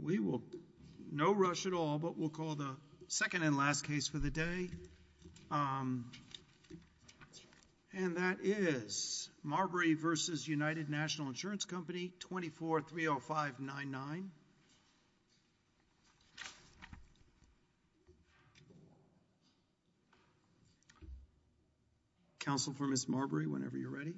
We will no rush at all but we'll call the second and last case for the day. And that is Marbury v. United National Insurance Company 2430599. Counsel for Ms. Marbury, whenever you're ready.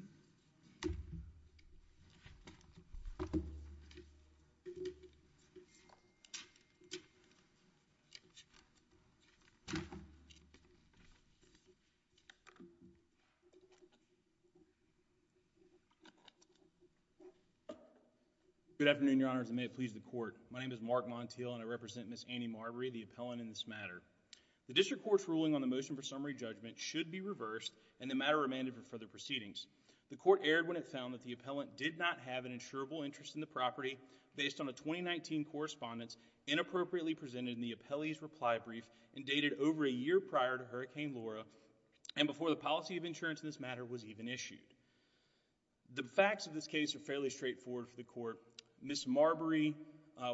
Good afternoon, Your Honors, and may it please the Court. My name is Mark Montiel and I represent Ms. Annie Marbury, the appellant in this matter. The District Court's ruling on the motion for summary judgment should be reversed and the matter remanded for further proceedings. The Court erred when it found that the appellant did not have an insurable interest in the property based on a 2019 correspondence inappropriately presented in the appellee's reply brief and dated over a year prior to Hurricane Laura and before the policy of insurance in this matter was even issued. The facts of this case are fairly straightforward for the Court. Ms. Marbury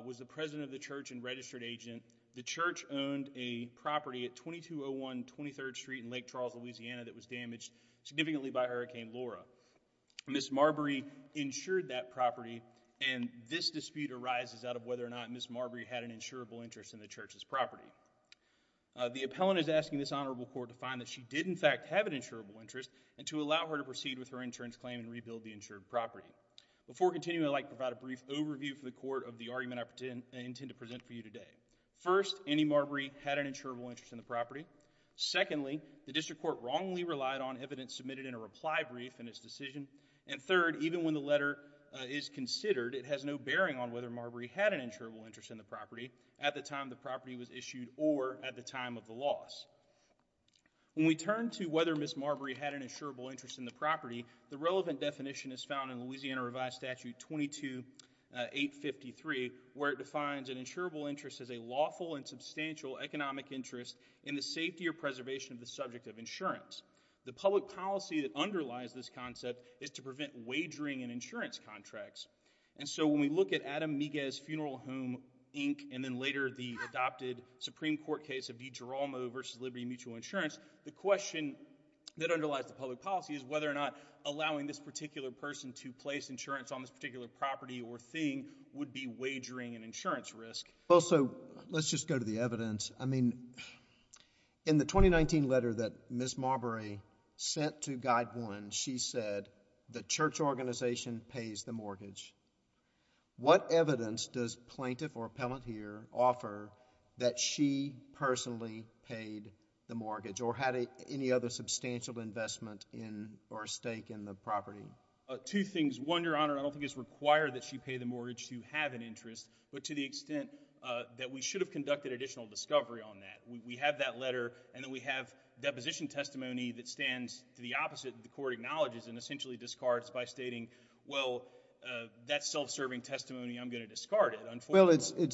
was the president of the church and registered agent. The church owned a property at 2201 23rd Street in Lake Charles, Louisiana that was damaged significantly by Hurricane Laura. Ms. Marbury insured that property and this dispute arises out of whether or not Ms. Marbury had an insurable interest in the church's property. The appellant is asking this honorable Court to find that she did in fact have an insurable interest and to allow her to proceed with her insurance claim and rebuild the insured property. Before continuing, I'd like to provide a brief overview for the Court of the argument I intend to present for you today. First, Annie Marbury had an insurable interest in the property. Secondly, the district court wrongly relied on evidence submitted in a reply brief in its decision. And third, even when the letter is considered, it has no bearing on whether Marbury had an insurable interest in the property at the time the property was issued or at the time of the loss. When we turn to whether Ms. Marbury had an insurable interest in the property, the relevant definition is found in Louisiana Revised Statute 22-853 where it defines an insurable interest as a lawful and substantial economic interest in the safety or preservation of the subject of insurance. The public policy that underlies this concept is to prevent wagering in insurance contracts. And so when we look at Adam Miguez Funeral Home Inc. and then later the adopted Supreme Court case of DeGiromo v. Liberty Mutual Insurance, the question that underlies the public policy is whether or not allowing this particular person to place insurance on this particular property or thing would be wagering in insurance risk. Well, so let's just go to the evidence. I mean, in the 2019 letter that Ms. Marbury sent to GuideOne, she said the church organization pays the mortgage. What evidence does plaintiff or appellate here offer that she personally paid the mortgage or had any other substantial investment in or stake in the property? Two things. One, Your Honor, I don't think it's required that she pay the mortgage to have an interest, but to the extent that we should have conducted additional discovery on that. We have that letter, and then we have deposition testimony that stands to the opposite that the court acknowledges and essentially discards by stating, well, that's self-serving testimony. I'm going to discard it, unfortunately. Well,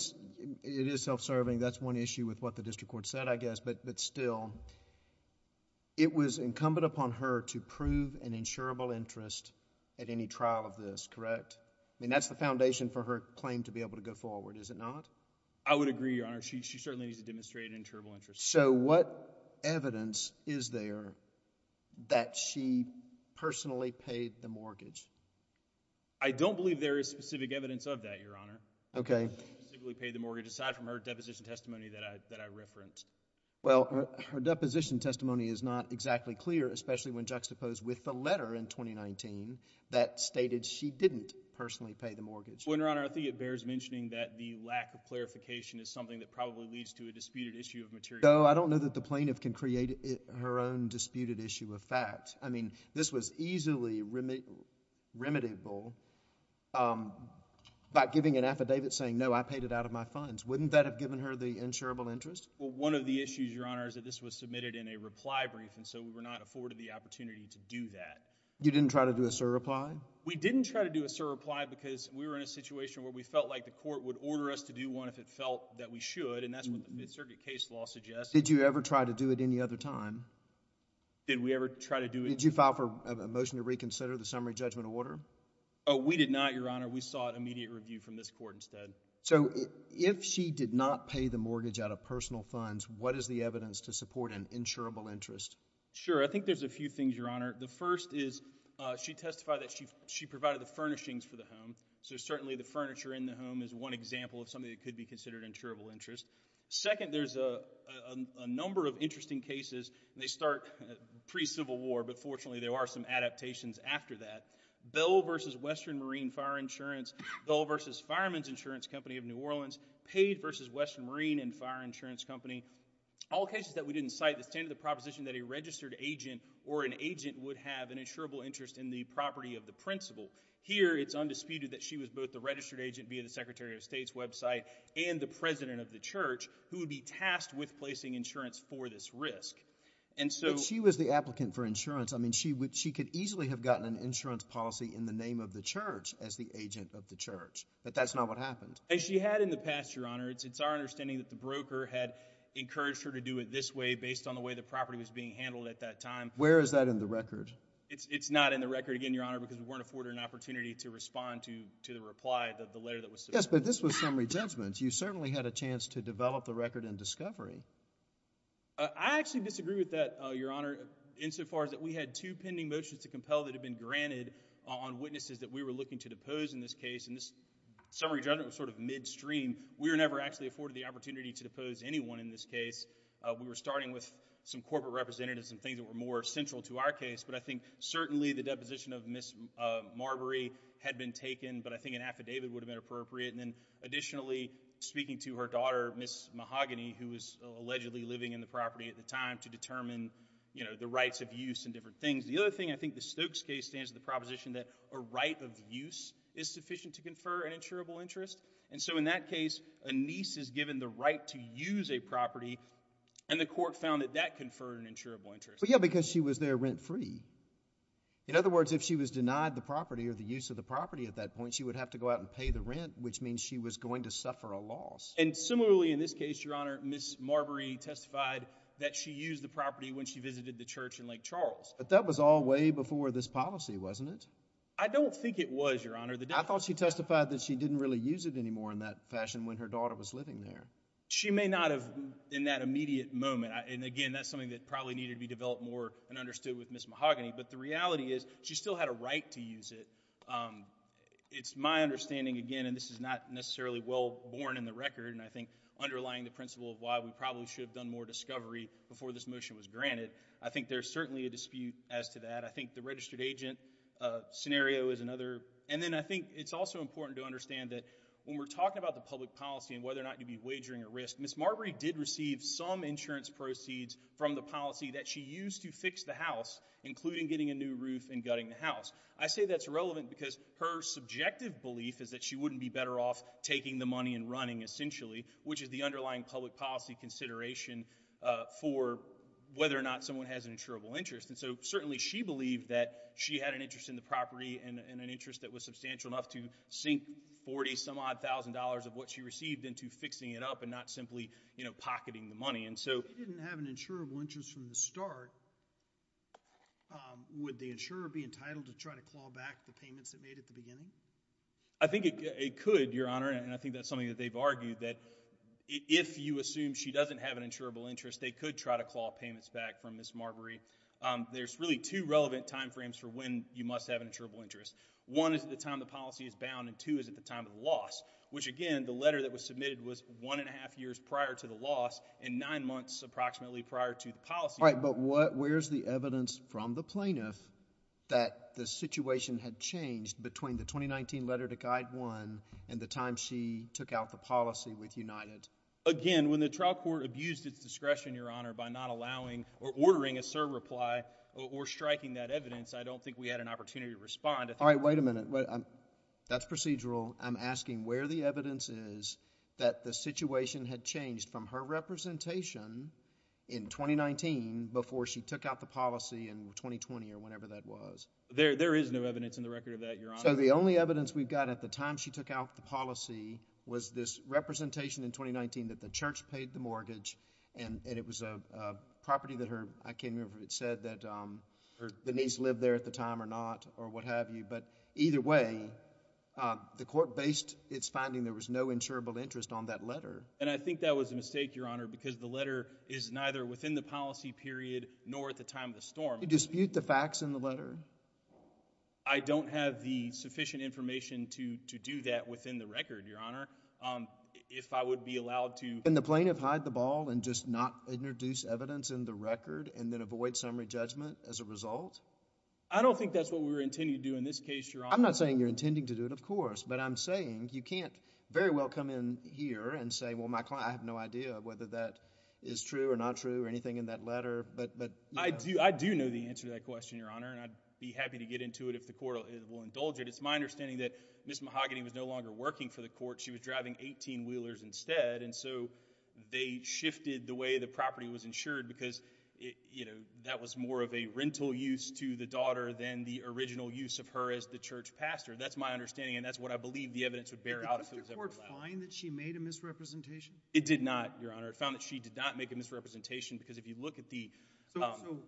it is self-serving. That's one issue with what the district court said, I guess, but still, it was incumbent upon her to prove an insurable interest at any trial of this, correct? I mean, that's the foundation for her claim to be able to go forward, is it not? I would agree, Your Honor. She certainly needs to demonstrate an insurable interest. So what evidence is there that she personally paid the mortgage? I don't believe there is specific evidence of that, Your Honor. Okay. That she specifically paid the mortgage, aside from her deposition testimony that I referenced. Well, her deposition testimony is not exactly clear, especially when juxtaposed with the letter in 2019 that stated she didn't personally pay the mortgage. Well, Your Honor, I think it bears mentioning that the lack of clarification is something that probably leads to a disputed issue of materiality. No, I don't know that the plaintiff can create her own disputed issue of fact. I mean, this was easily remittable by giving an affidavit saying, no, I paid it out of my funds. Wouldn't that have given her the insurable interest? Well, one of the issues, Your Honor, is that this was submitted in a reply brief, and so we were not afforded the opportunity to do that. You didn't try to do a surreply? We didn't try to do a surreply because we were in a situation where we felt like the court would order us to do one if it felt that we should, and that's what the Mid-Circuit case law suggests. Did you ever try to do it any other time? Did we ever try to do it? Did you file for a motion to reconsider the summary judgment order? We did not, Your Honor. We sought immediate review from this court instead. So if she did not pay the mortgage out of personal funds, what is the evidence to support an insurable interest? Sure. I think there's a few things, Your Honor. The first is she testified that she provided the furnishings for the home, so certainly the furniture in the home is one example of something that could be considered an insurable interest. Second, there's a number of interesting cases, and they start pre-Civil War, but fortunately there are some adaptations after that. Bell v. Western Marine Fire Insurance, Bell v. Fireman's Insurance Company of New Orleans, Paid v. Western Marine and Fire Insurance Company, all cases that we didn't cite that stand to the proposition that a registered agent or an agent would have an insurable interest in the property of the principal. Here it's undisputed that she was both the registered agent via the Secretary of State's website and the president of the church who would be tasked with placing insurance for this risk. And so— But she was the applicant for insurance. I mean, she could easily have gotten an insurance policy in the name of the church as the agent of the church. But that's not what happened. As she had in the past, Your Honor, it's our understanding that the broker had encouraged her to do it this way based on the way the property was being handled at that time. Where is that in the record? It's not in the record, again, Your Honor, because we weren't afforded an opportunity to respond to the reply of the letter that was submitted. Yes, but this was summary judgment. You certainly had a chance to develop the record and discovery. I actually disagree with that, Your Honor, insofar as that we had two pending motions to compel that had been granted on witnesses that we were looking to depose in this case, and this summary judgment was sort of midstream. We were never actually afforded the opportunity to depose anyone in this case. We were starting with some corporate representatives and things that were more central to our case, but I think certainly the deposition of Ms. Marbury had been taken, but I think an affidavit would have been appropriate. And then additionally, speaking to her daughter, Ms. Mahogany, who was allegedly living in the property at the time to determine, you know, the rights of use and different things. The other thing, I think the Stokes case stands to the proposition that a right of use is sufficient to confer an insurable interest, and so in that case, a niece is given the right to use a property, and the court found that that conferred an insurable interest. But yeah, because she was there rent-free. In other words, if she was denied the property or the use of the property at that point, she would have to go out and pay the rent, which means she was going to suffer a loss. And similarly in this case, Your Honor, Ms. Marbury testified that she used the property when she visited the church in Lake Charles. But that was all way before this policy, wasn't it? I don't think it was, Your Honor. I thought she testified that she didn't really use it anymore in that fashion when her daughter was living there. She may not have in that immediate moment, and again, that's something that probably needed to be developed more and understood with Ms. Mahogany, but the reality is she still had a right to use it. It's my understanding, again, and this is not necessarily well-born in the record, and I think underlying the principle of why we probably should have done more discovery before this motion was granted, I think there's certainly a dispute as to that. I think the registered agent scenario is another. And then I think it's also important to understand that when we're talking about the public policy and whether or not you'd be wagering a risk, Ms. Marbury did receive some insurance proceeds from the policy that she used to fix the house, including getting a new roof and gutting the I say that's relevant because her subjective belief is that she wouldn't be better off taking the money and running, essentially, which is the underlying public policy consideration for whether or not someone has an insurable interest. And so, certainly, she believed that she had an interest in the property and an interest that was substantial enough to sink $40-some-odd thousand dollars of what she received into fixing it up and not simply, you know, pocketing the money. And so— If she didn't have an insurable interest from the start, would the insurer be entitled to try to claw back the payments it made at the beginning? I think it could, Your Honor, and I think that's something that they've argued that if you assume she doesn't have an insurable interest, they could try to claw payments back from Ms. Marbury. There's really two relevant timeframes for when you must have an insurable interest. One is at the time the policy is bound, and two is at the time of the loss, which, again, the letter that was submitted was one and a half years prior to the loss and nine months approximately prior to the policy— All right, but what—where's the evidence from the plaintiff that the situation had changed between the 2019 letter to Guide 1 and the time she took out the policy with United? Again, when the trial court abused its discretion, Your Honor, by not allowing or ordering a serve reply or striking that evidence, I don't think we had an opportunity to respond. All right, wait a minute. That's procedural. I'm asking where the evidence is that the situation had changed from her representation in 2019 before she took out the policy in 2020 or whenever that was. There is no evidence in the record of that, Your Honor. So the only evidence we've got at the time she took out the policy was this representation in 2019 that the church paid the mortgage, and it was a property that her—I can't remember if it said that Denise lived there at the time or not or what have you. But either way, the court based its finding there was no insurable interest on that letter. And I think that was a mistake, Your Honor, because the letter is neither within the policy period nor at the time of the storm. Do you dispute the facts in the letter? I don't have the sufficient information to do that within the record, Your Honor. If I would be allowed to— Can the plaintiff hide the ball and just not introduce evidence in the record and then avoid summary judgment as a result? I don't think that's what we were intending to do in this case, Your Honor. I'm not saying you're intending to do it, of course, but I'm saying you can't very well come in here and say, well, I have no idea whether that is true or not true or anything in that letter. But— I do know the answer to that question, Your Honor, and I'd be happy to get into it if the court will indulge it. It's my understanding that Ms. Mahogany was no longer working for the court. She was driving 18-wheelers instead, and so they shifted the way the property was insured because, you know, that was more of a rental use to the daughter than the original use of her as the church pastor. That's my understanding, and that's what I believe the evidence would bear out if it was ever allowed. Did the district court find that she made a misrepresentation? It did not, Your Honor. It found that she did not make a misrepresentation because if you look at the— So,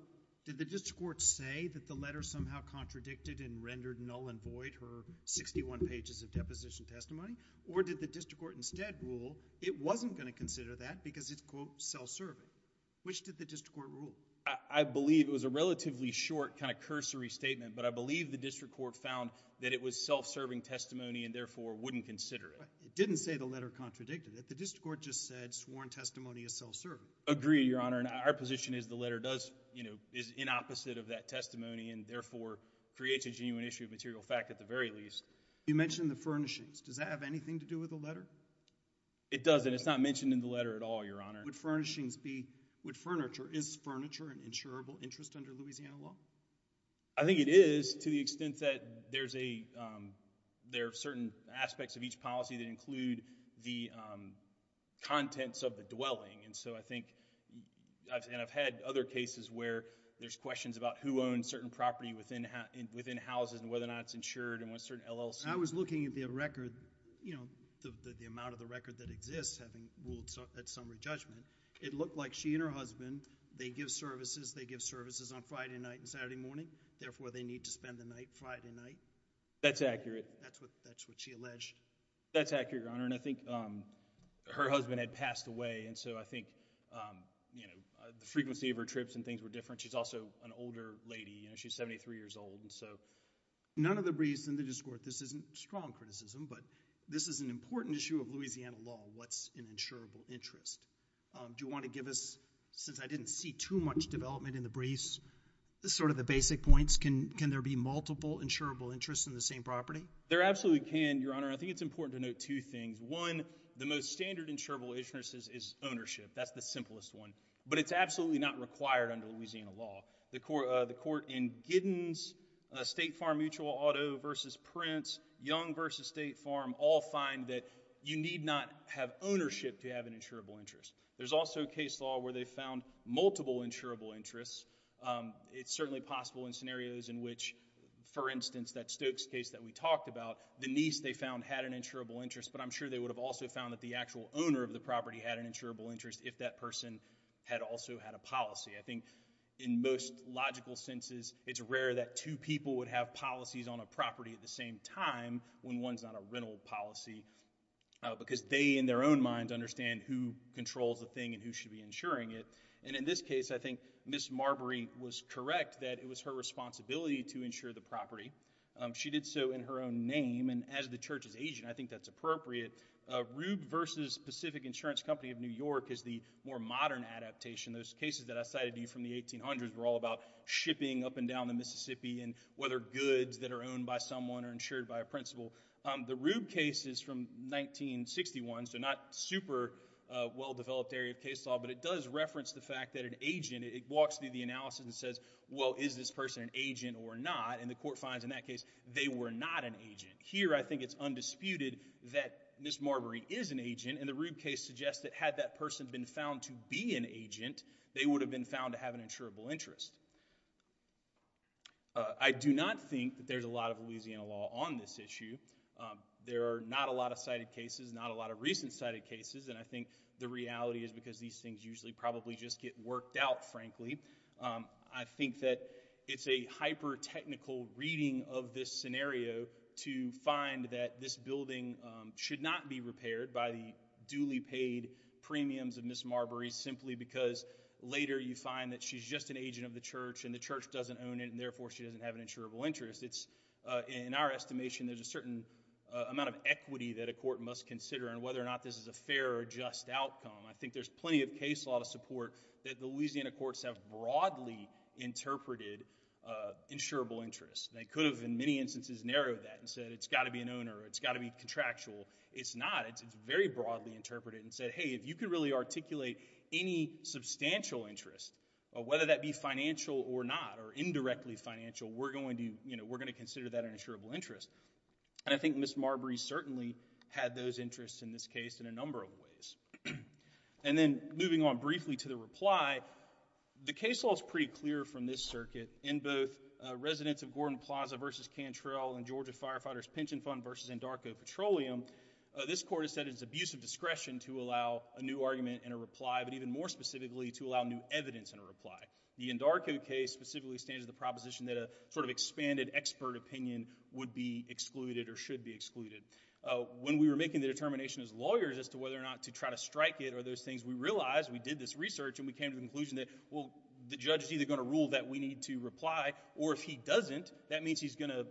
did the district court say that the letter somehow contradicted and rendered null and void her 61 pages of deposition testimony? Or did the district court instead rule it wasn't going to consider that because it's quote self-serving? Which did the district court rule? I believe it was a relatively short kind of cursory statement, but I believe the district court found that it was self-serving testimony and therefore wouldn't consider it. It didn't say the letter contradicted it. The district court just said sworn testimony is self-serving. I agree, Your Honor, and our position is the letter does, you know, is in opposite of that testimony and therefore creates a genuine issue of material fact at the very least. You mentioned the furnishings. Does that have anything to do with the letter? It doesn't. It's not mentioned in the letter at all, Your Honor. Would furnishings be—would furniture—is furniture an insurable interest under Louisiana law? I think it is to the extent that there's a—there are certain aspects of each policy that include the contents of the dwelling, and so I think—and I've had other cases where there's questions about who owns certain property within houses and whether or not it's insured and what certain LLCs— I was looking at the record, you know, the amount of the record that exists, having ruled at summary judgment. It looked like she and her husband, they give services, they give services on Friday night and Saturday morning, therefore, they need to spend the night Friday night. That's accurate. That's what she alleged. That's accurate, Your Honor, and I think her husband had passed away, and so I think, you know, the frequency of her trips and things were different. She's also an older lady, you know, she's 73 years old, and so— None of the briefs in the district court. This isn't strong criticism, but this is an important issue of Louisiana law, what's an insurable interest. Do you want to give us, since I didn't see too much development in the briefs, sort of the basic points. Can there be multiple insurable interests in the same property? There absolutely can, Your Honor. I think it's important to note two things. One, the most standard insurable interest is ownership. That's the simplest one, but it's absolutely not required under Louisiana law. The court in Giddens, State Farm Mutual Auto v. Prince, Young v. State Farm, all find that you need not have ownership to have an insurable interest. There's also case law where they found multiple insurable interests. It's certainly possible in scenarios in which, for instance, that Stokes case that we talked about, the niece they found had an insurable interest, but I'm sure they would have also found that the actual owner of the property had an insurable interest if that person had also had a policy. I think in most logical senses, it's rare that two people would have policies on a property at the same time when one's on a rental policy, because they, in their own minds, understand who controls the thing and who should be insuring it, and in this case, I think Ms. Marbury was correct that it was her responsibility to insure the property. She did so in her own name, and as the Church's agent, I think that's appropriate. Rube v. Pacific Insurance Company of New York is the more modern adaptation. Those cases that I cited to you from the 1800s were all about shipping up and down the Mississippi and whether goods that are owned by someone are insured by a principal. The Rube case is from 1961, so not super well-developed area of case law, but it does reference the fact that an agent, it walks through the analysis and says, well, is this person an agent or not, and the court finds in that case they were not an agent. Here I think it's undisputed that Ms. Marbury is an agent, and the Rube case suggests that had that person been found to be an agent, they would have been found to have an insurable interest. I do not think that there's a lot of Louisiana law on this issue. There are not a lot of cited cases, not a lot of recent cited cases, and I think the reality is because these things usually probably just get worked out, frankly. I think that it's a hyper-technical reading of this scenario to find that this building should not be repaired by the duly paid premiums of Ms. Marbury simply because later you find that she's just an agent of the church, and the church doesn't own it, and therefore she doesn't have an insurable interest. In our estimation, there's a certain amount of equity that a court must consider on whether or not this is a fair or just outcome. I think there's plenty of case law to support that Louisiana courts have broadly interpreted insurable interest. They could have, in many instances, narrowed that and said it's got to be an owner, it's got to be contractual. It's not. It's very broadly interpreted and said, hey, if you could really articulate any substantial interest, whether that be financial or not, or indirectly financial, we're going to consider that an insurable interest. I think Ms. Marbury certainly had those interests in this case in a number of ways. And then moving on briefly to the reply, the case law is pretty clear from this circuit in both residents of Gordon Plaza versus Cantrell and Georgia Firefighters Pension Fund versus Andarco Petroleum, this court has said it's abuse of discretion to allow a new argument and a reply, but even more specifically, to allow new evidence and a reply. The Andarco case specifically stands to the proposition that a sort of expanded expert opinion would be excluded or should be excluded. When we were making the determination as lawyers as to whether or not to try to strike it or those things, we realized, we did this research, and we came to the conclusion that, well, the judge is either going to rule that we need to reply, or if he doesn't, that means he's going to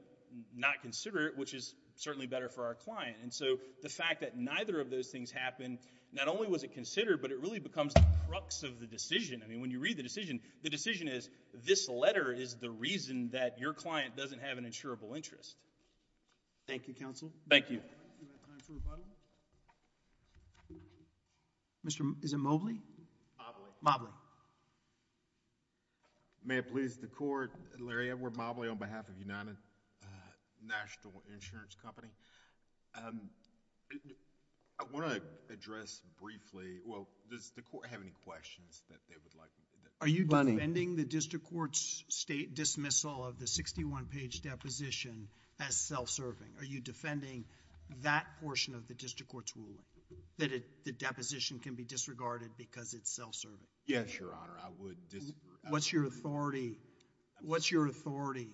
not consider it, which is certainly better for our client. And so the fact that neither of those things happened, not only was it considered, but it really becomes the crux of the decision. I mean, when you read the decision, the decision is, this letter is the reason that your client doesn't have an insurable interest. Thank you, counsel. Thank you. Do we have time for rebuttal? Mr. Is it Mobley? Mobley. May it please the Court, Larry Edwards, Mobley, on behalf of United National Insurance Company. I want to address briefly, well, does the Court have any questions that they would like to make? Are you defending the district court's state dismissal of the sixty-one page deposition as self-serving? Are you defending that portion of the district court's ruling, that the deposition can be disregarded because it's self-serving? Yes, Your Honor. I would disagree. What's your authority, what's your authority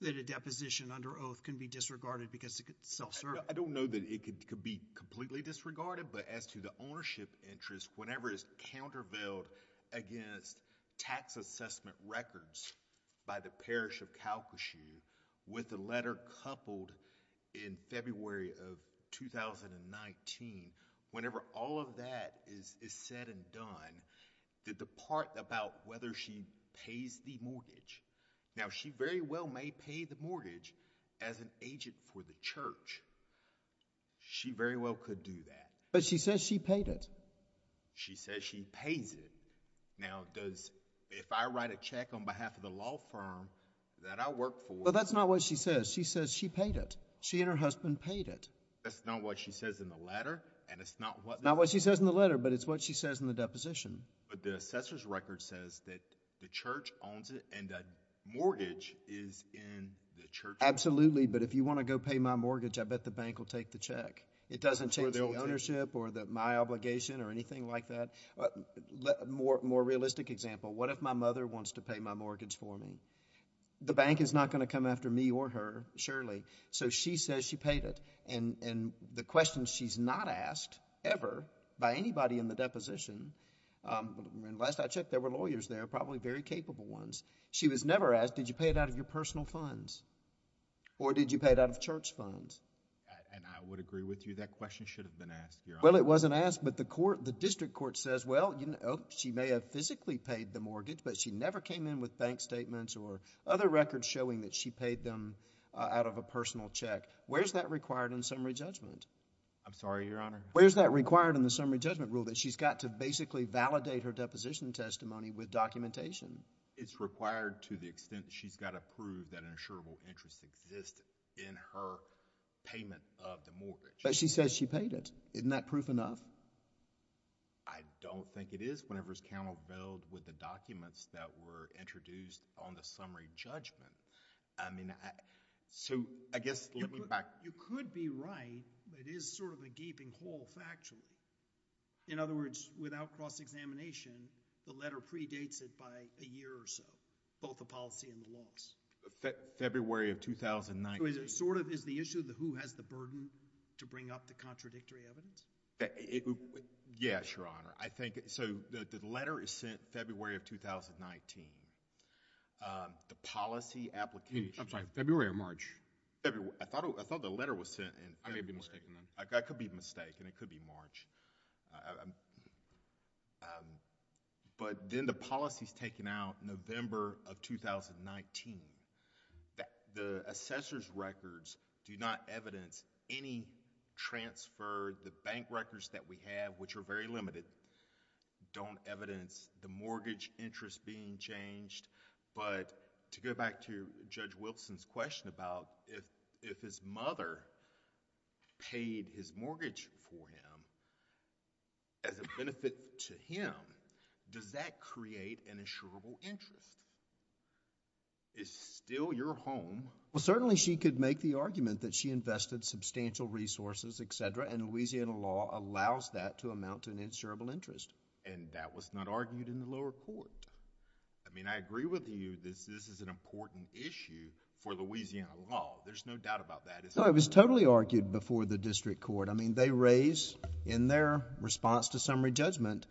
that a deposition under oath can be disregarded because it's self-serving? I don't know that it could be completely disregarded, but as to the ownership interest, whenever it's countervailed against tax assessment records by the Parish of Calcasieu, with the part about whether she pays the mortgage, now she very well may pay the mortgage as an agent for the church. She very well could do that. But she says she paid it. She says she pays it. Now, does, if I write a check on behalf of the law firm that I work for... But that's not what she says. She says she paid it. She and her husband paid it. That's not what she says in the letter, and it's not what... It's not what she says in the letter, but it's what she says in the deposition. But the assessor's record says that the church owns it, and that mortgage is in the church. Absolutely, but if you want to go pay my mortgage, I bet the bank will take the check. It doesn't change the ownership or my obligation or anything like that. More realistic example, what if my mother wants to pay my mortgage for me? The bank is not going to come after me or her, surely. So she says she paid it, and the question she's not asked ever by anybody in the deposition... and last I checked, there were lawyers there, probably very capable ones. She was never asked, did you pay it out of your personal funds? Or did you pay it out of church funds? And I would agree with you. That question should have been asked, Your Honor. Well, it wasn't asked, but the court, the district court says, well, you know, she may have physically paid the mortgage, but she never came in with bank statements or other records showing that she paid them out of a personal check. Where's that required in summary judgment? I'm sorry, Your Honor. Where's that required in the summary judgment rule that she's got to basically validate her deposition testimony with documentation? It's required to the extent she's got to prove that an insurable interest exists in her payment of the mortgage. But she says she paid it. Isn't that proof enough? I don't think it is whenever it's countervailed with the documents that were introduced on the summary judgment. I mean, so I guess... Did you find it divisible, or is it resolvable factually? In other words, without cross-examination, the letter predates it by a year or so, both the policy and the larks. February of 2019. So it sort of is the issue of who has the burden to bring up the contradictory evidence? Yes, Your Honor. I think... so, the letter is sent February of 2019. The policy application... I'm sorry. February or March? I thought the letter was sent in... I could be mistaken then. It could be March. But then the policy is taken out November of 2019. The assessor's records do not evidence any transfer. The bank records that we have, which are very limited, don't evidence the mortgage interest being changed. But, to go back to Judge Wilson's question about if his mother paid his mortgage for him as a benefit to him, does that create an insurable interest? Is still your home... Well, certainly she could make the argument that she invested substantial resources, et cetera, and Louisiana law allows that to amount to an insurable interest. And that was not argued in the lower court? I mean, I agree with you that this is an important issue for Louisiana law. There's no doubt about that. It's... No, it was totally argued before the district court. I mean, they raised in their response to summary judgment,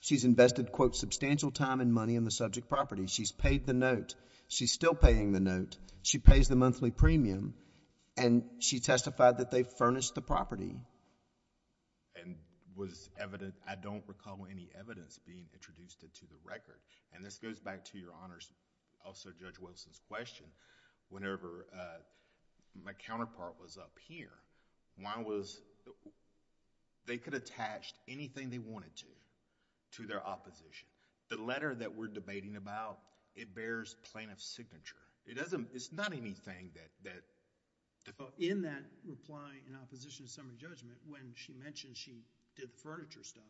she's invested quote substantial time and money in the subject property. She's paid the note. She's still paying the note. She pays the monthly premium and she testified that they furnished the property. And was evident... I don't recall any evidence being introduced into the record. And this goes back to your Honor's... also Judge Wilson's question. Whenever my counterpart was up here, Juan was... they could attach anything they wanted to, to their opposition. The letter that we're debating about, it bears plaintiff's signature. It's not anything that... In that reply in opposition to summary judgment, when she mentioned she did furniture stuff,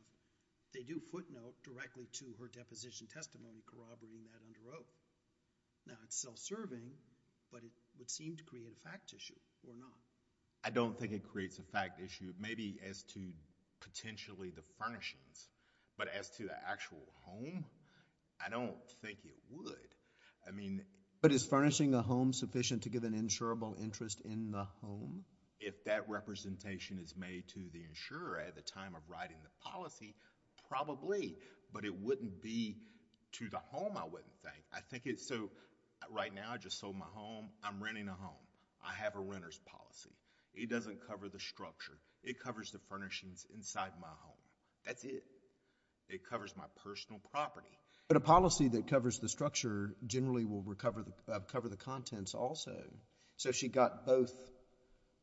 they do footnote directly to her deposition testimony corroborating that under oath. Now, it's self-serving, but it would seem to create a fact issue or not. I don't think it creates a fact issue, maybe as to potentially the furnishings. But as to the actual home, I don't think it would. I mean... But is furnishing a home sufficient to give an insurable interest in the home? If that representation is made to the insurer at the time of writing the policy, probably. But it wouldn't be to the home, I wouldn't think. I think it's so... right now, I just sold my home. I'm renting a home. I have a renter's policy. It doesn't cover the structure. It covers the furnishings inside my home. That's it. It covers my personal property. But a policy that covers the structure generally will cover the contents also. So she got both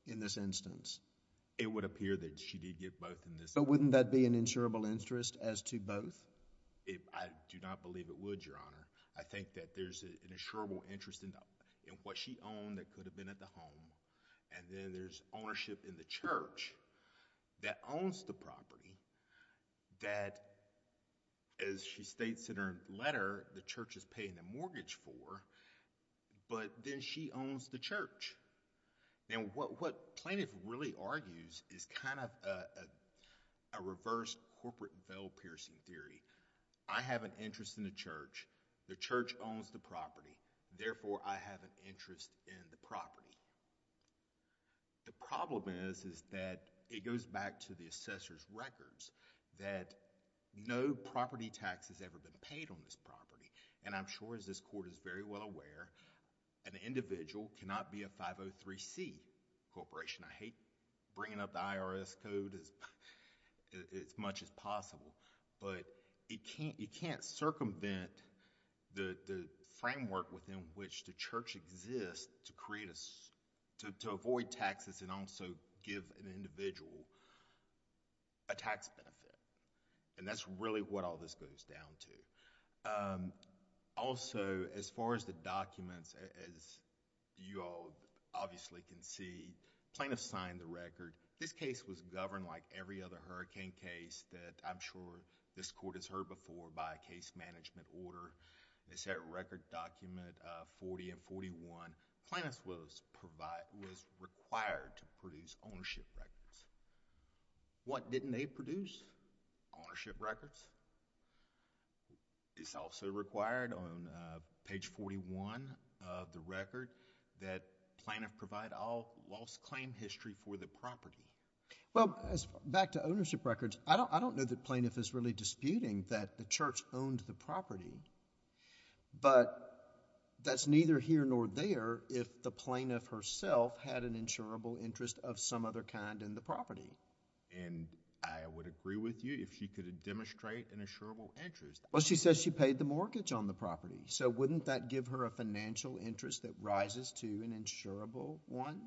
in this instance? It would appear that she did get both in this instance. But wouldn't that be an insurable interest as to both? I do not believe it would, Your Honor. I think that there's an insurable interest in what she owned that could have been at the home, and then there's ownership in the church that owns the property that, as she states in her letter, the church is paying the mortgage for, but then she owns the church. Now, what Plaintiff really argues is kind of a reverse corporate bell-piercing theory. I have an interest in the church. The church owns the property. Therefore, I have an interest in the property. The problem is, is that it goes back to the assessor's records that no property tax has ever been paid on this property, and I'm sure as this court is very well aware, an individual cannot be a 503C corporation. I hate bringing up the IRS code as much as possible, but it can't circumvent the framework within which the church exists to avoid taxes and also give an individual a tax benefit, and that's really what all this goes down to. Also as far as the documents, as you all obviously can see, Plaintiff signed the record. This case was governed like every other hurricane case that I'm sure this court has heard before by a case management order. They said record document 40 and 41, Plaintiff was required to produce ownership records. What didn't they produce? Ownership records. It's also required on page 41 of the record that Plaintiff provide all lost claim history for the property. Well, back to ownership records, I don't know that Plaintiff is really disputing that the But that's neither here nor there if the plaintiff herself had an insurable interest of some other kind in the property. I would agree with you if she could demonstrate an insurable interest. Well, she says she paid the mortgage on the property, so wouldn't that give her a financial interest that rises to an insurable one?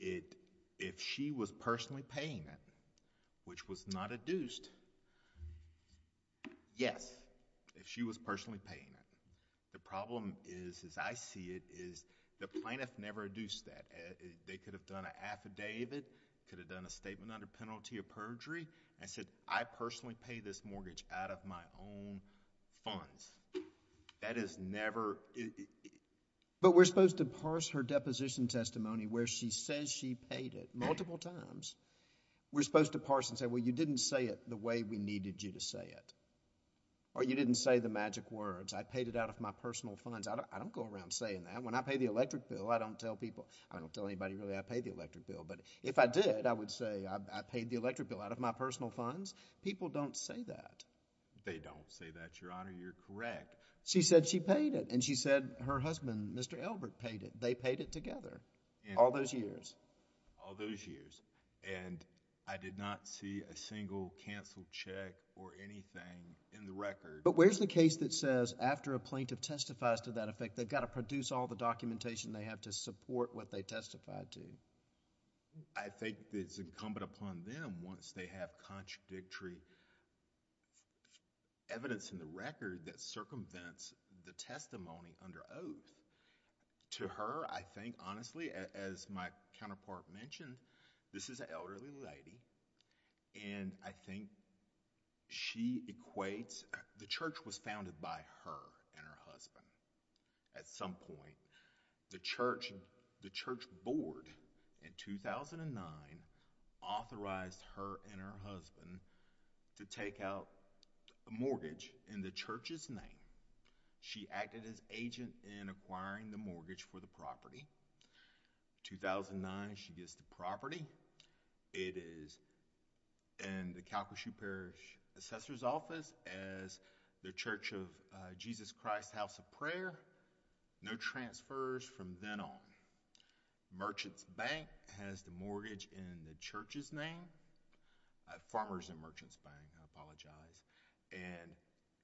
If she was personally paying that, which was not adduced, yes. If she was personally paying it, the problem is, as I see it, is the plaintiff never adduced that. They could have done an affidavit, could have done a statement under penalty of perjury and said, I personally pay this mortgage out of my own funds. That is never... But we're supposed to parse her deposition testimony where she says she paid it multiple times. We're supposed to parse and say, well, you didn't say it the way we needed you to say it. Or you didn't say the magic words, I paid it out of my personal funds. I don't go around saying that. When I pay the electric bill, I don't tell people, I don't tell anybody really I pay the electric bill. But if I did, I would say, I paid the electric bill out of my personal funds. People don't say that. They don't say that, Your Honor, you're correct. She said she paid it, and she said her husband, Mr. Elbert, paid it. They paid it together all those years. All those years. I did not see a single canceled check or anything in the record. But where's the case that says after a plaintiff testifies to that effect, they've got to produce all the documentation they have to support what they testified to? I think it's incumbent upon them once they have contradictory evidence in the record that circumvents the testimony under oath. To her, I think, honestly, as my counterpart mentioned, this is an elderly lady, and I think she equates, the church was founded by her and her husband at some point. The church, the church board in 2009 authorized her and her husband to take out a mortgage in the church's name. She acted as agent in acquiring the mortgage for the property. 2009, she gets the property. It is in the Calcasieu Parish Assessor's Office as the Church of Jesus Christ House of Prayer. No transfers from then on. Merchants Bank has the mortgage in the church's name. Farmers and Merchants Bank, I apologize.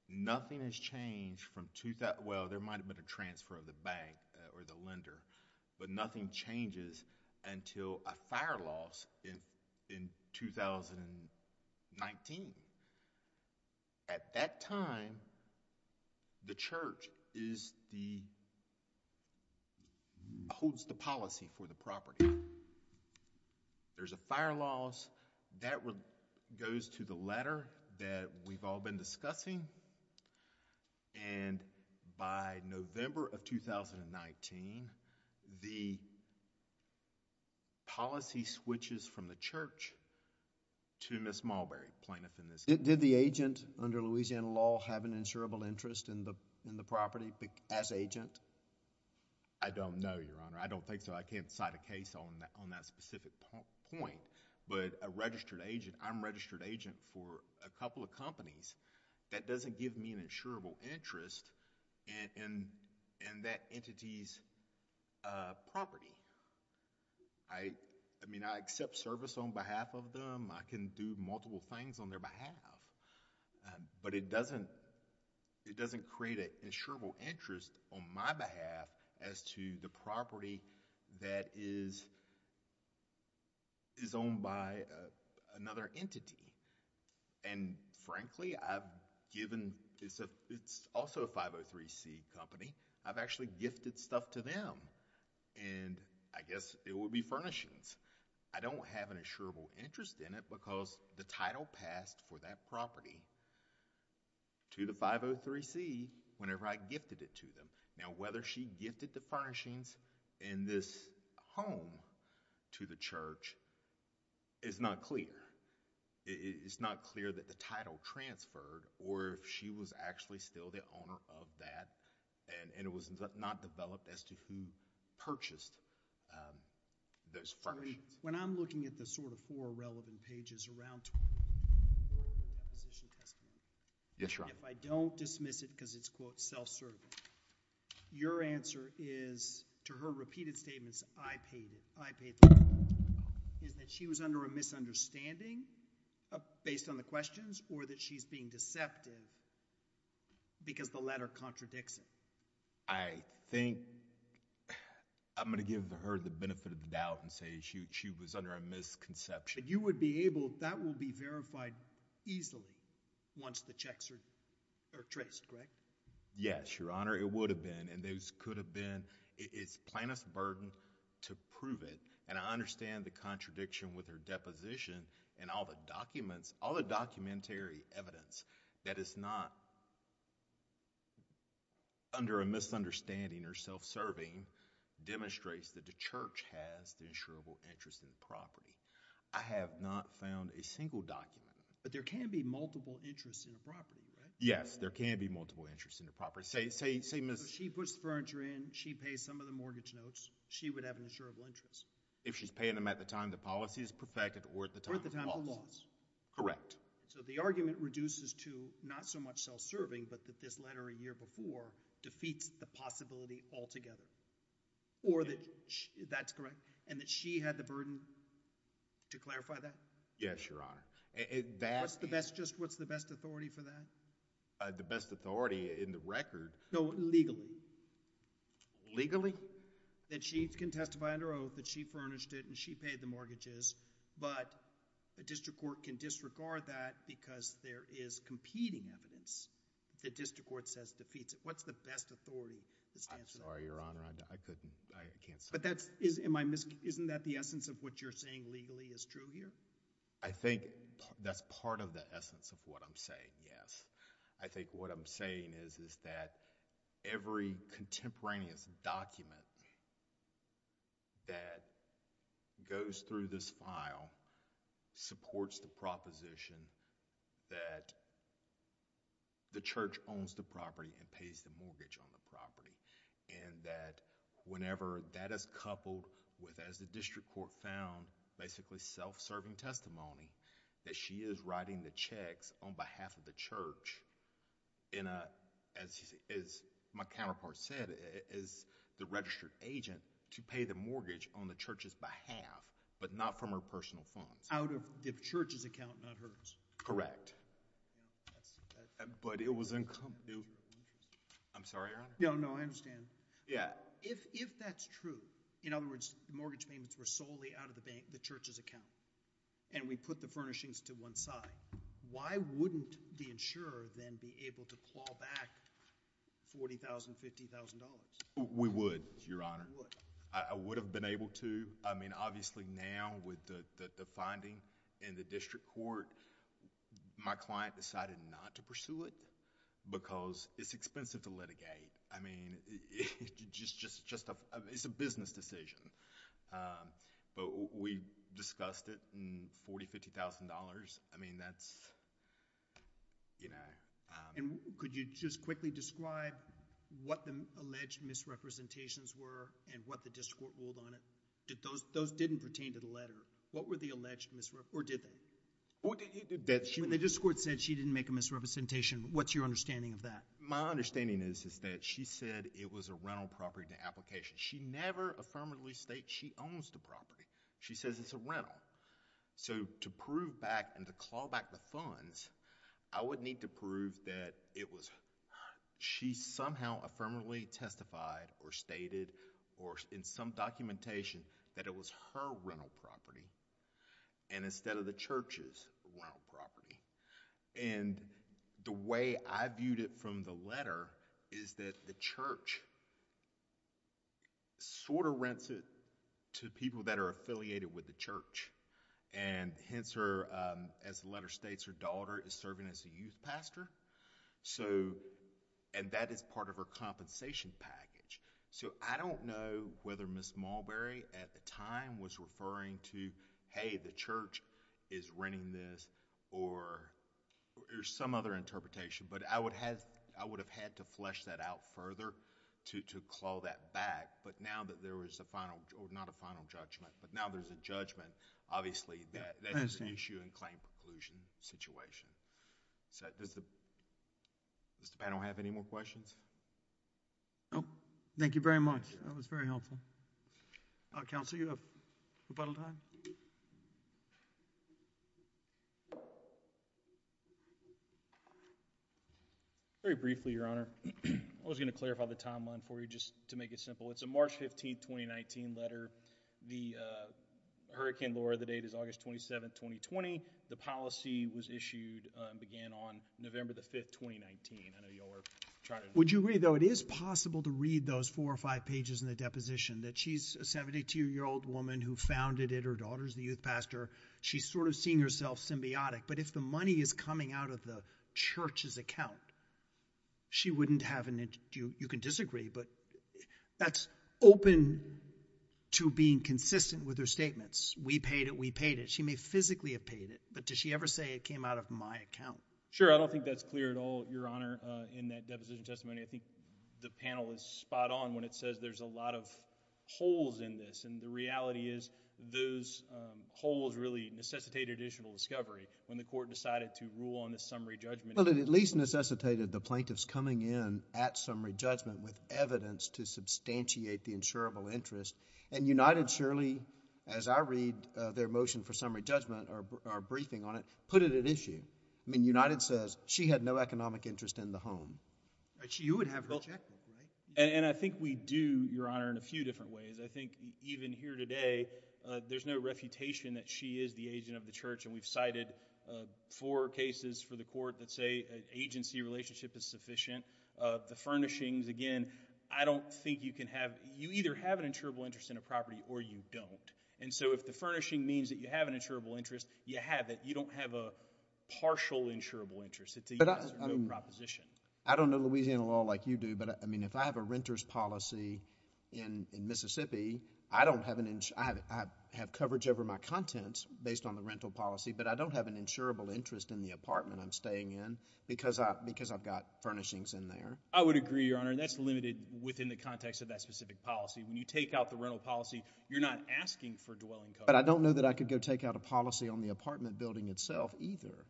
Nothing has changed from... Well, there might have been a transfer of the bank or the lender, but nothing changes until a fire loss in 2019. At that time, the church holds the policy for the property. There's a fire loss. That goes to the letter that we've all been discussing, and by November of 2019, the policy switches from the church to Ms. Mulberry, plaintiff in this case. Did the agent under Louisiana law have an insurable interest in the property as agent? I don't know, Your Honor. I don't think so. I can't cite a case on that specific point, but a registered agent... I'm a registered agent for a couple of companies. That doesn't give me an insurable interest in that entity's property. I accept service on behalf of them. I can do multiple things on their behalf, but it doesn't create an insurable interest on my behalf as to the property that is owned by another entity. Frankly, I've given... It's also a 503C company. I've actually gifted stuff to them, and I guess it would be furnishings. I don't have an insurable interest in it because the title passed for that property to the Now, whether she gifted the furnishings in this home to the church is not clear. It's not clear that the title transferred or she was actually still the owner of that, and it was not developed as to who purchased those furnishings. When I'm looking at the sort of four relevant pages around... Yes, Your Honor. I don't dismiss it because it's, quote, self-serving. Your answer is, to her repeated statements, I paid the bill, is that she was under a misunderstanding based on the questions or that she's being deceptive because the letter contradicts it. I think I'm going to give her the benefit of the doubt and say she was under a misconception. You would be able... That will be verified easily once the checks are traced, correct? Yes, Your Honor. It would have been, and those could have been. It's plaintiff's burden to prove it, and I understand the contradiction with her deposition and all the documents, all the documentary evidence that is not under a misunderstanding or self-serving demonstrates that the church has the insurable interest in the property. I have not found a single document. But there can be multiple interests in the property, right? Yes. There can be multiple interests in the property. Say Ms.... If she puts the furniture in, she pays some of the mortgage notes, she would have an insurable interest. If she's paying them at the time the policy is perfected or at the time of the policy. Or at the time of the laws. Correct. So the argument reduces to not so much self-serving, but that this letter a year before defeats the possibility altogether. Or that, that's correct, and that she had the burden to clarify that? Yes, Your Honor. And that... What's the best, just what's the best authority for that? The best authority in the record... No, legally. Legally? That she can testify under oath that she furnished it and she paid the mortgages, but the district court can disregard that because there is competing evidence. The district court says defeats it. What's the best authority? I'm sorry, Your Honor. I couldn't, I can't... But that's, am I, isn't that the essence of what you're saying legally is true here? I think that's part of the essence of what I'm saying, yes. I think what I'm saying is, is that every contemporaneous document that goes through this file supports the proposition that the church owns the property and pays the mortgage on the property, and that whenever that is coupled with, as the district court found, basically self-serving testimony, that she is writing the checks on behalf of the church in a, as my counterpart said, is the registered agent to pay the mortgage on the church's behalf, but not from her personal funds. Out of the church's account, not hers. Correct. But it was, I'm sorry, Your Honor. No, no, I understand. Yeah. If that's true, in other words, mortgage payments were solely out of the bank, the church's account, and we put the furnishings to one side, why wouldn't the insurer then be able to claw back $40,000, $50,000? We would, Your Honor. You would. I would have been able to. I mean, obviously now with the finding in the district court, my client decided not to pursue it because it's expensive to litigate. I mean, it's a business decision, but we discussed it and $40,000, $50,000, I mean, that's... Could you just quickly describe what the alleged misrepresentations were and what the district court ruled on it? Those didn't pertain to the letter. What were the alleged misrep... or did they? The district court said she didn't make a misrepresentation. What's your understanding of that? My understanding is that she said it was a rental property in the application. She never affirmatively states she owns the property. She says it's a rental. So to prove back and to claw back the funds, I would need to prove that it was... she somehow affirmatively testified or stated or in some documentation that it was her rental property and instead of the church's rental property. The way I viewed it from the letter is that the church sort of rents it to people that are affiliated with the church. Hence her, as the letter states, her daughter is serving as a youth pastor. So... and that is part of her compensation package. So I don't know whether Ms. Mulberry at the time was referring to, hey, the church is renting this or some other interpretation. But I would have had to flesh that out further to claw that back. But now that there was a final... or not a final judgment, but now there's a judgment, obviously that is an issue in claim preclusion situation. Does the panel have any more questions? No. Thank you very much. That was very helpful. Council, you have rebuttal time. Very briefly, Your Honor. I was going to clarify the timeline for you just to make it simple. It's a March 15, 2019 letter. The hurricane lure of the date is August 27, 2020. The policy was issued and began on November 5, 2019. I know you all are trying to... Would you agree, though, it is possible to read those four or five pages in the deposition? That she's a 72-year-old woman who founded it, her daughter's the youth pastor. She's sort of seeing herself symbiotic. But if the money is coming out of the church's account, she wouldn't have an... you can disagree, but that's open to being consistent with her statements. We paid it. We paid it. She may physically have paid it, but does she ever say it came out of my account? Sure. I don't think that's clear at all, Your Honor, in that deposition testimony. I think the panel is spot on when it says there's a lot of holes in this. And the reality is those holes really necessitate additional discovery when the court decided to rule on this summary judgment. Well, it at least necessitated the plaintiffs coming in at summary judgment with evidence to substantiate the insurable interest. And United surely, as I read their motion for summary judgment, our briefing on it, put it at issue. I mean, United says she had no economic interest in the home. But you would have rejected, right? And I think we do, Your Honor, in a few different ways. I think even here today, there's no refutation that she is the agent of the church, and we've cited four cases for the court that say agency relationship is sufficient. The furnishings, again, I don't think you can have... you either have an insurable interest in a property or you don't. And so if the furnishing means that you have an insurable interest, you have it. You don't have a partial insurable interest. It's a yes or no proposition. I don't know Louisiana law like you do, but if I have a renter's policy in Mississippi, I have coverage over my contents based on the rental policy, but I don't have an insurable interest in the apartment I'm staying in because I've got furnishings in there. I would agree, Your Honor. That's limited within the context of that specific policy. When you take out the rental policy, you're not asking for dwelling coverage. But I don't know that I could go take out a policy on the apartment building itself either.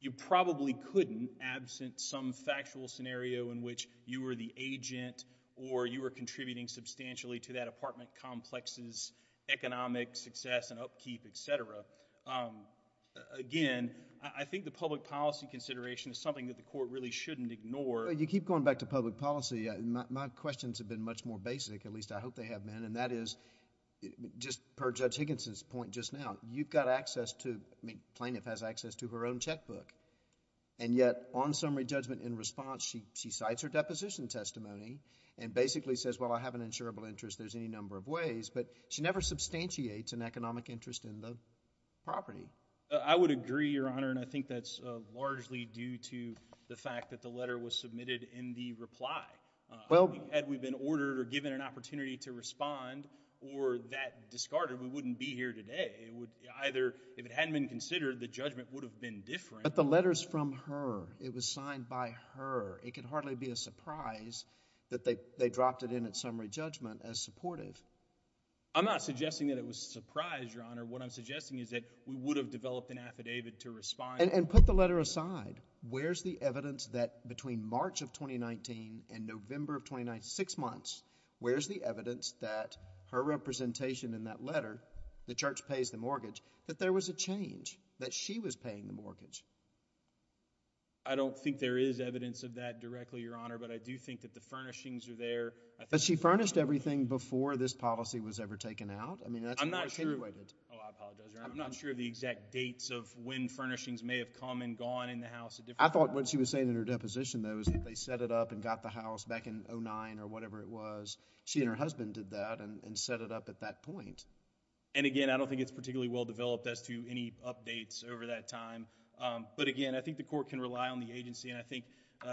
You probably couldn't, absent some factual scenario in which you were the agent or you were contributing substantially to that apartment complex's economic success and upkeep, etc. Again, I think the public policy consideration is something that the court really shouldn't ignore. You keep going back to public policy. My questions have been much more basic, at least I hope they have been, and that is, just per Judge Higginson's point just now, you've got access to, Plaintiff has access to her own checkbook. And yet on summary judgment in response, she cites her deposition testimony and basically says, well, I have an insurable interest. There's any number of ways. But she never substantiates an economic interest in the property. I would agree, Your Honor, and I think that's largely due to the fact that the letter was submitted in the reply. Had we been ordered or given an opportunity to respond or that discarded, we wouldn't be here today. It would either, if it hadn't been considered, the judgment would have been different. But the letter's from her. It was signed by her. It could hardly be a surprise that they dropped it in at summary judgment as supportive. I'm not suggesting that it was a surprise, Your Honor. What I'm suggesting is that we would have developed an affidavit to respond. And put the letter aside. Where's the evidence that between March of 2019 and November of 2019, six months, where's the evidence that her representation in that letter, the church pays the mortgage, that there was a change, that she was paying the mortgage? I don't think there is evidence of that directly, Your Honor. But I do think that the furnishings are there. But she furnished everything before this policy was ever taken out? I'm not sure. Oh, I apologize, Your Honor. I'm not sure of the exact dates of when furnishings may have come and gone in the house. I thought what she was saying in her deposition, though, is that they set it up and got the house back in 2009 or whatever it was. She and her husband did that and set it up at that point. And again, I don't think it's particularly well developed as to any updates over that time. But again, I think the court can rely on the agency. And I think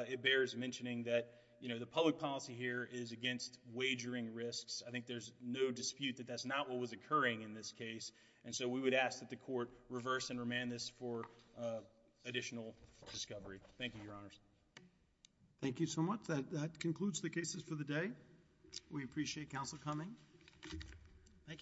it bears mentioning that, you know, the public policy here is against wagering risks. I think there's no dispute that that's not what was occurring in this case. And so we would ask that the court reverse and remand this for additional discovery. Thank you, Your Honors. Thank you so much. That concludes the cases for the day. We appreciate counsel coming. Thank you. Thank you.